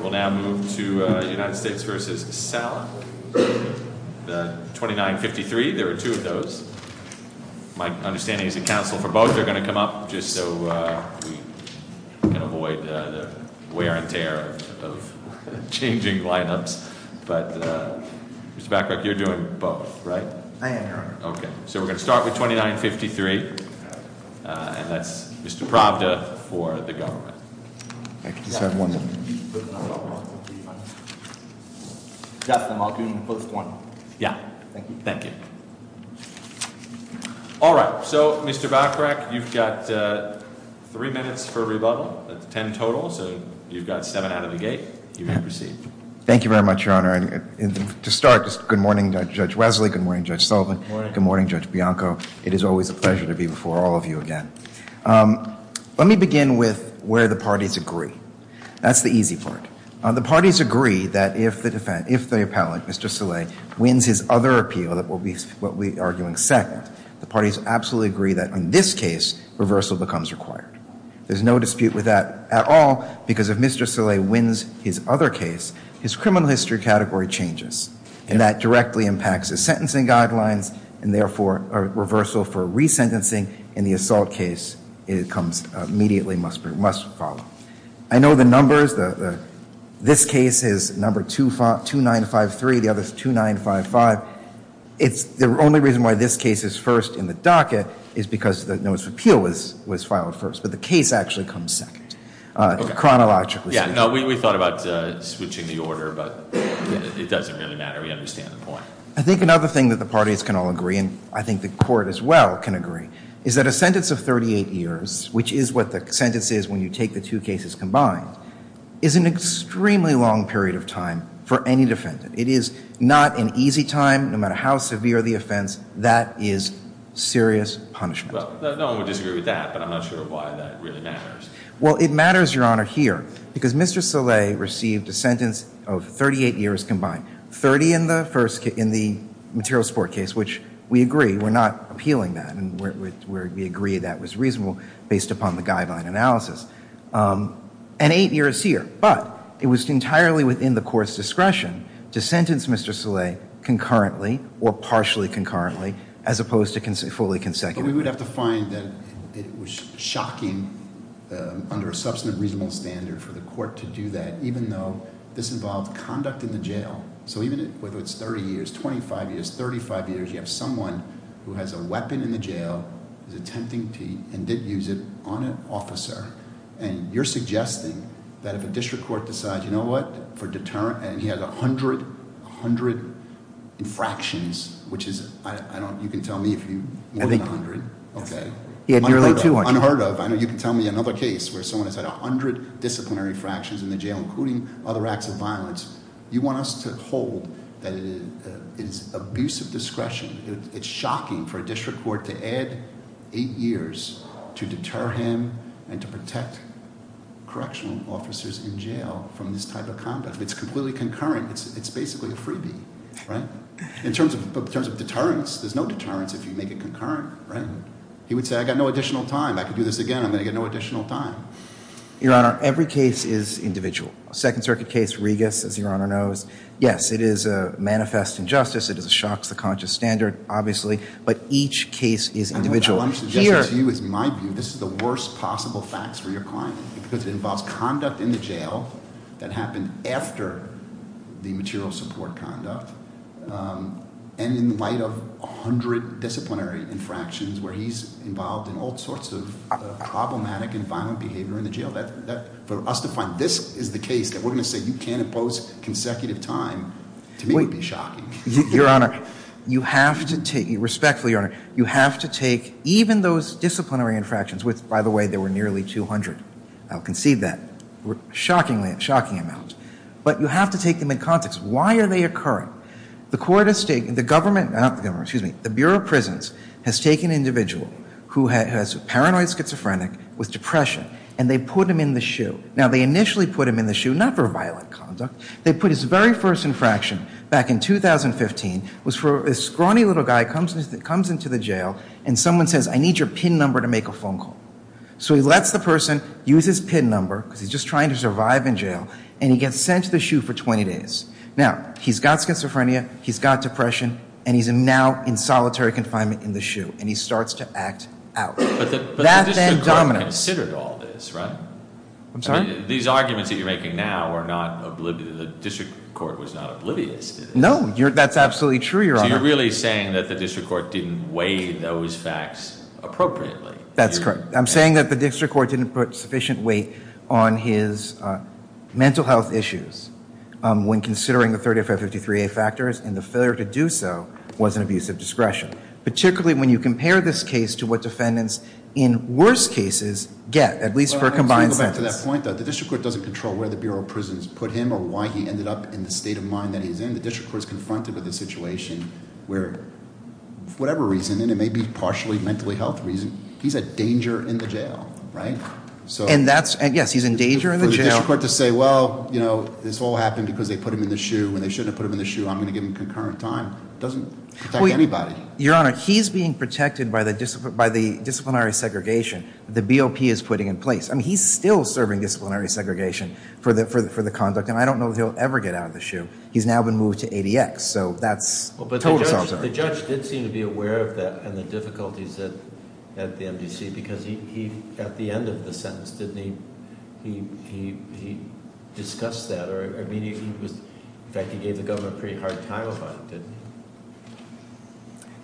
We'll now move to United States v. Saleh, the 2953. There are two of those. My understanding is that counsel for both are going to come up just so we can avoid the wear and tear of changing lineups. But Mr. Bacharach, you're doing both, right? I am, Your Honor. Okay. So we're going to start with 2953, and that's Mr. Pravda for the government. I just have one minute. Justin, I'll do post one. Yeah. Thank you. Thank you. All right. So, Mr. Bacharach, you've got three minutes for rebuttal. That's ten total, so you've got seven out of the gate. You may proceed. Thank you very much, Your Honor. And to start, good morning, Judge Wesley. Good morning, Judge Sullivan. Good morning. Good morning, Judge Bianco. It is always a pleasure to be before all of you again. Let me begin with where the parties agree. That's the easy part. The parties agree that if the defendant, if the appellant, Mr. Saleh, wins his other appeal, what we're arguing second, the parties absolutely agree that in this case, reversal becomes required. There's no dispute with that at all because if Mr. Saleh wins his other case, his criminal history category changes. And that directly impacts his sentencing guidelines, and therefore, a reversal for resentencing in the assault case comes immediately, must follow. I know the numbers, this case is number 2953, the other is 2955. The only reason why this case is first in the docket is because the notice of appeal was filed first, but the case actually comes second, chronologically speaking. No, we thought about switching the order, but it doesn't really matter. We understand the point. I think another thing that the parties can all agree, and I think the court as well can agree, is that a sentence of 38 years, which is what the sentence is when you take the two cases combined, is an extremely long period of time for any defendant. It is not an easy time. No matter how severe the offense, that is serious punishment. Well, no one would disagree with that, but I'm not sure why that really matters. Well, it matters, Your Honor, here, because Mr. Saleh received a sentence of 38 years combined. Thirty in the material support case, which we agree, we're not appealing that, and we agree that was reasonable based upon the guideline analysis. And eight years here, but it was entirely within the court's discretion to sentence Mr. Saleh concurrently, or partially concurrently, as opposed to fully consecutively. But we would have to find that it was shocking under a substantive reasonable standard for the court to do that, even though this involved conduct in the jail. So even if it's thirty years, twenty-five years, thirty-five years, you have someone who has a weapon in the jail, is attempting to, and did use it on an officer, and you're suggesting that if a district court decides, you know what, for deterrent, and he has a hundred infractions, which is... Okay. He had nearly too much. Unheard of. I know you can tell me another case where someone has had a hundred disciplinary fractions in the jail, including other acts of violence. You want us to hold that it is abusive discretion. It's shocking for a district court to add eight years to deter him and to protect correctional officers in jail from this type of conduct. It's completely concurrent. It's basically a freebie, right? In terms of deterrence, there's no deterrence if you make it concurrent, right? He would say, I've got no additional time. I can do this again. I'm going to get no additional time. Your Honor, every case is individual. Second Circuit case, Regas, as Your Honor knows, yes, it is a manifest injustice. It is a shock to the conscious standard, obviously, but each case is individual. What I'm suggesting to you is, in my view, this is the worst possible facts for your client, because it involves conduct in the jail that happened after the material support conduct, and in light of a hundred disciplinary infractions where he's involved in all sorts of problematic and violent behavior in the jail. For us to find this is the case that we're going to say you can't impose consecutive time to me would be shocking. Your Honor, you have to take, respectfully, Your Honor, you have to take even those disciplinary infractions, which, by the way, there were nearly 200. I'll concede that. Shockingly, a shocking amount. But you have to take them in context. Why are they occurring? The court has taken, the government, not the government, excuse me, the Bureau of Prisons has taken an individual who has a paranoid schizophrenic with depression, and they put him in the shoe. Now, they initially put him in the shoe not for violent conduct. They put his very first infraction back in 2015 was for this scrawny little guy comes into the jail, and someone says, I need your PIN number to make a phone call. So he lets the person use his PIN number, because he's just trying to survive in jail, and he gets sent to the shoe for 20 days. Now, he's got schizophrenia, he's got depression, and he's now in solitary confinement in the shoe, and he starts to act out. But the district court considered all this, right? I'm sorry? These arguments that you're making now were not, the district court was not oblivious to this. No, that's absolutely true, Your Honor. So you're really saying that the district court didn't weigh those facts appropriately? That's correct. I'm saying that the district court didn't put sufficient weight on his mental health issues when considering the 30553A factors, and the failure to do so was an abuse of discretion, particularly when you compare this case to what defendants in worse cases get, at least for a combined sentence. Let me go back to that point, though. The district court doesn't control where the Bureau of Prisons put him or why he ended up in the state of mind that he's in. The district court is confronted with a situation where, for whatever reason, and it may be partially a mental health reason, he's a danger in the jail, right? And that's, yes, he's a danger in the jail. For the district court to say, well, this all happened because they put him in the shoe, and they shouldn't have put him in the shoe, I'm going to give him concurrent time, doesn't protect anybody. Your Honor, he's being protected by the disciplinary segregation the BOP is putting in place. I mean, he's still serving disciplinary segregation for the conduct, and I don't know if he'll ever get out of the shoe. He's now been moved to ADX, so that's totally self-serving. But the judge did seem to be aware of that and the difficulties at the MDC, because he, at the end of the sentence, didn't he discuss that? Or, I mean, he was, in fact, he gave the government a pretty hard time about it, didn't he?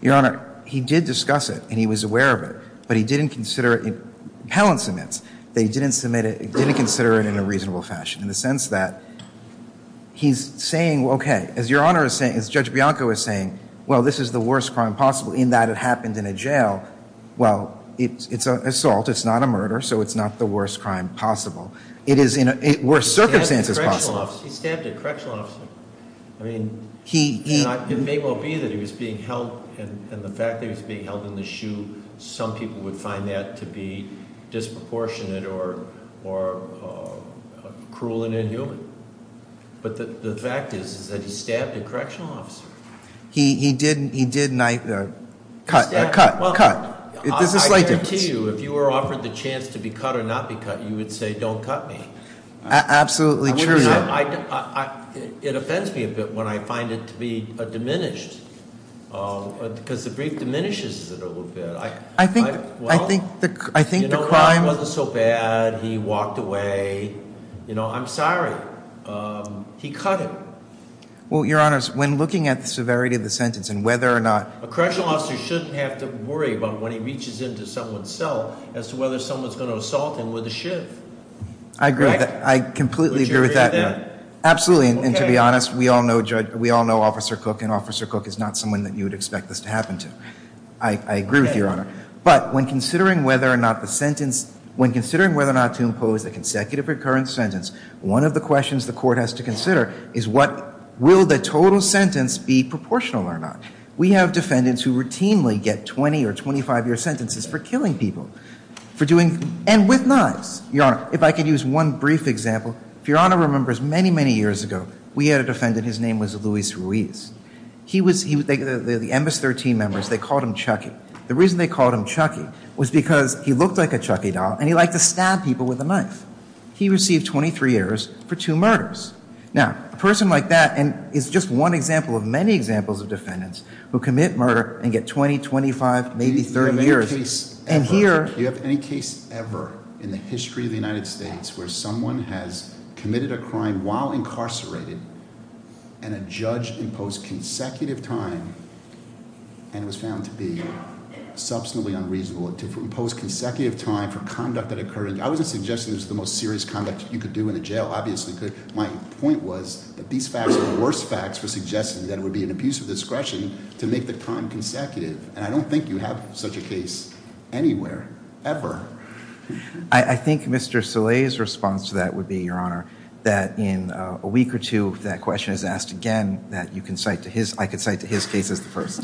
Your Honor, he did discuss it, and he was aware of it, but he didn't consider it. Appellant submits, they didn't submit it, didn't consider it in a reasonable fashion, in the sense that he's saying, okay, as Your Honor is saying, as Judge Bianco is saying, well, this is the worst crime possible in that it happened in a jail. Well, it's an assault, it's not a murder, so it's not the worst crime possible. It is in worse circumstances possible. He stabbed a correctional officer. I mean, it may well be that he was being held, and the fact that he was being held in the shoe, some people would find that to be disproportionate or cruel and inhuman. But the fact is, is that he stabbed a correctional officer. He did cut, cut, cut. I guarantee you, if you were offered the chance to be cut or not be cut, you would say, don't cut me. Absolutely true. It offends me a bit when I find it to be diminished, because the brief diminishes it a little bit. I think the crime- It wasn't so bad, he walked away. I'm sorry. He cut him. Well, Your Honor, when looking at the severity of the sentence and whether or not- A correctional officer shouldn't have to worry about when he reaches into someone's cell as to whether someone's going to assault him with a shiv. I agree with that. I completely agree with that. Would you agree with that? Absolutely. And to be honest, we all know Judge- we all know Officer Cook, and Officer Cook is not someone that you would expect this to happen to. I agree with you, Your Honor. But when considering whether or not the sentence- when considering whether or not to impose a consecutive recurrent sentence, one of the questions the court has to consider is what- will the total sentence be proportional or not? We have defendants who routinely get 20 or 25-year sentences for killing people, for doing- and with knives. Your Honor, if I could use one brief example. If Your Honor remembers many, many years ago, we had a defendant, his name was Luis Ruiz. He was- the MS-13 members, they called him Chucky. The reason they called him Chucky was because he looked like a Chucky doll and he liked to stab people with a knife. He received 23 years for two murders. Now, a person like that is just one example of many examples of defendants who commit murder and get 20, 25, maybe 30 years. You have any case ever- And here- In the history of the United States where someone has committed a crime while incarcerated and a judge imposed consecutive time and was found to be substantively unreasonable to impose consecutive time for conduct that occurred. I wasn't suggesting it was the most serious conduct you could do in a jail. Obviously you could. My point was that these facts were the worst facts for suggesting that it would be an abuse of discretion to make the crime consecutive. And I don't think you have such a case anywhere, ever. I think Mr. Soleil's response to that would be, Your Honor, that in a week or two if that question is asked again, that you can cite to his- I could cite to his case as the first.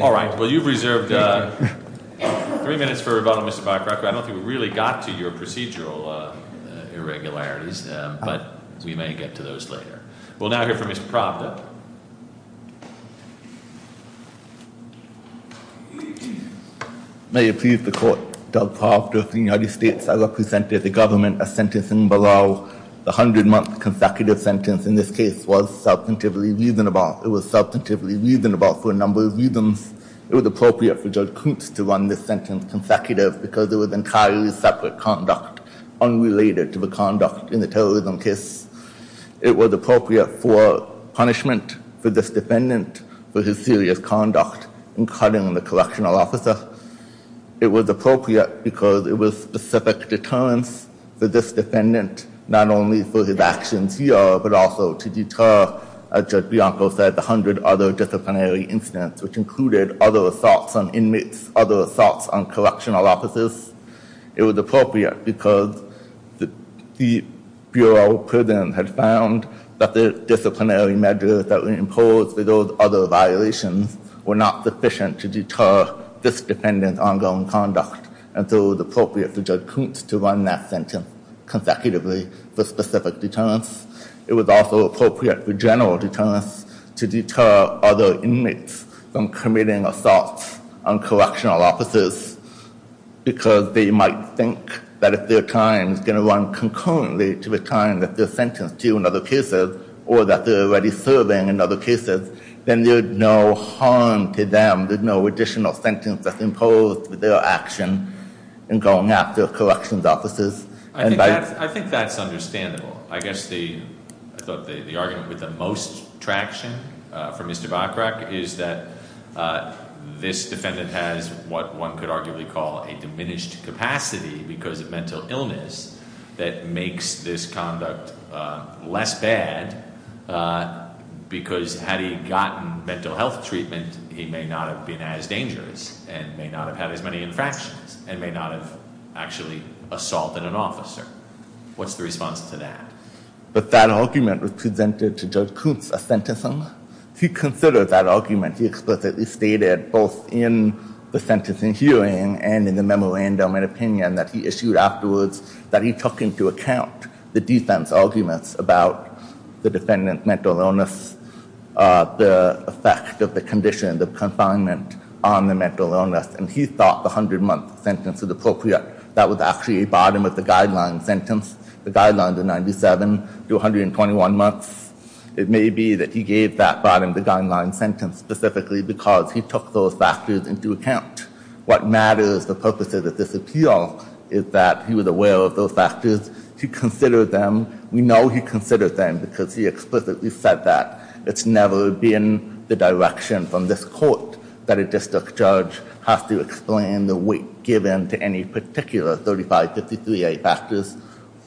All right. Well, you've reserved three minutes for rebuttal, Mr. Bacharach. I don't think we really got to your procedural irregularities, but we may get to those later. We'll now hear from Ms. Pravda. Ms. Pravda. May it please the Court. Judge Pravda of the United States, I represented the government as sentencing below. The 100-month consecutive sentence in this case was substantively reasonable. It was substantively reasonable for a number of reasons. It was appropriate for Judge Koontz to run this sentence consecutive because it was entirely separate conduct, unrelated to the conduct in the terrorism case. It was appropriate for punishment for this defendant for his serious conduct in cutting the correctional officer. It was appropriate because it was specific deterrence for this defendant, not only for his actions here, but also to deter, as Judge Bianco said, the 100 other disciplinary incidents, which included other assaults on inmates, other assaults on correctional officers. It was appropriate because the Bureau of Prisons had found that the disciplinary measures that were imposed for those other violations were not sufficient to deter this defendant's ongoing conduct, and so it was appropriate for Judge Koontz to run that sentence consecutively for specific deterrence. It was also appropriate for general deterrence to deter other inmates from committing assaults on correctional officers because they might think that if their time is going to run concurrently to the time that they're sentenced to in other cases, or that they're already serving in other cases, then there's no harm to them. There's no additional sentence that's imposed with their action in going after correctional officers. I think that's understandable. I guess the argument with the most traction for Mr. Bachrach is that this defendant has what one could arguably call a diminished capacity because of mental illness that makes this conduct less bad because had he gotten mental health treatment, he may not have been as dangerous and may not have had as many infractions and may not have actually assaulted an officer. What's the response to that? But that argument was presented to Judge Koontz a sentencing. He considered that argument. He explicitly stated both in the sentencing hearing and in the memorandum and opinion that he issued afterwards that he took into account the defense arguments about the defendant's mental illness, the effect of the condition, the confinement on the mental illness, and he thought the 100-month sentence was appropriate. That was actually a bottom-of-the-guideline sentence. The guidelines are 97 to 121 months. It may be that he gave that bottom-of-the-guideline sentence specifically because he took those factors into account. What matters, the purposes of this appeal, is that he was aware of those factors. He considered them. We know he considered them because he explicitly said that. It's never been the direction from this court that a district judge has to explain the weight given to any particular 3553A factors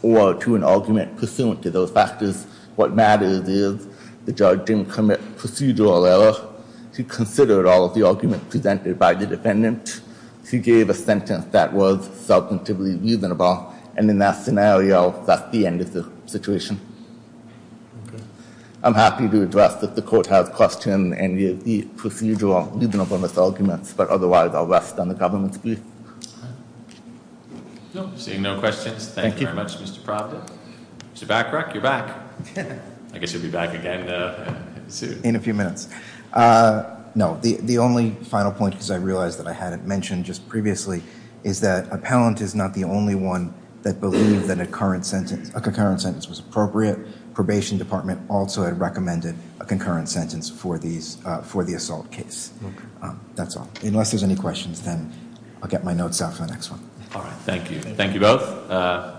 or to an argument pursuant to those factors. What matters is the judge didn't commit procedural error. He considered all of the arguments presented by the defendant. He gave a sentence that was substantively reasonable, and in that scenario, that's the end of the situation. I'm happy to address, if the court has questions, any of the procedural reasonableness arguments, but otherwise I'll rest on the government's brief. Seeing no questions, thank you very much, Mr. Proctor. Is he back, Breck? You're back. I guess he'll be back again soon. In a few minutes. No, the only final point, because I realized that I hadn't mentioned just previously, is that appellant is not the only one that believed that a concurrent sentence was appropriate. Probation department also had recommended a concurrent sentence for the assault case. That's all. Unless there's any questions, then I'll get my notes out for the next one. All right, thank you. Thank you both.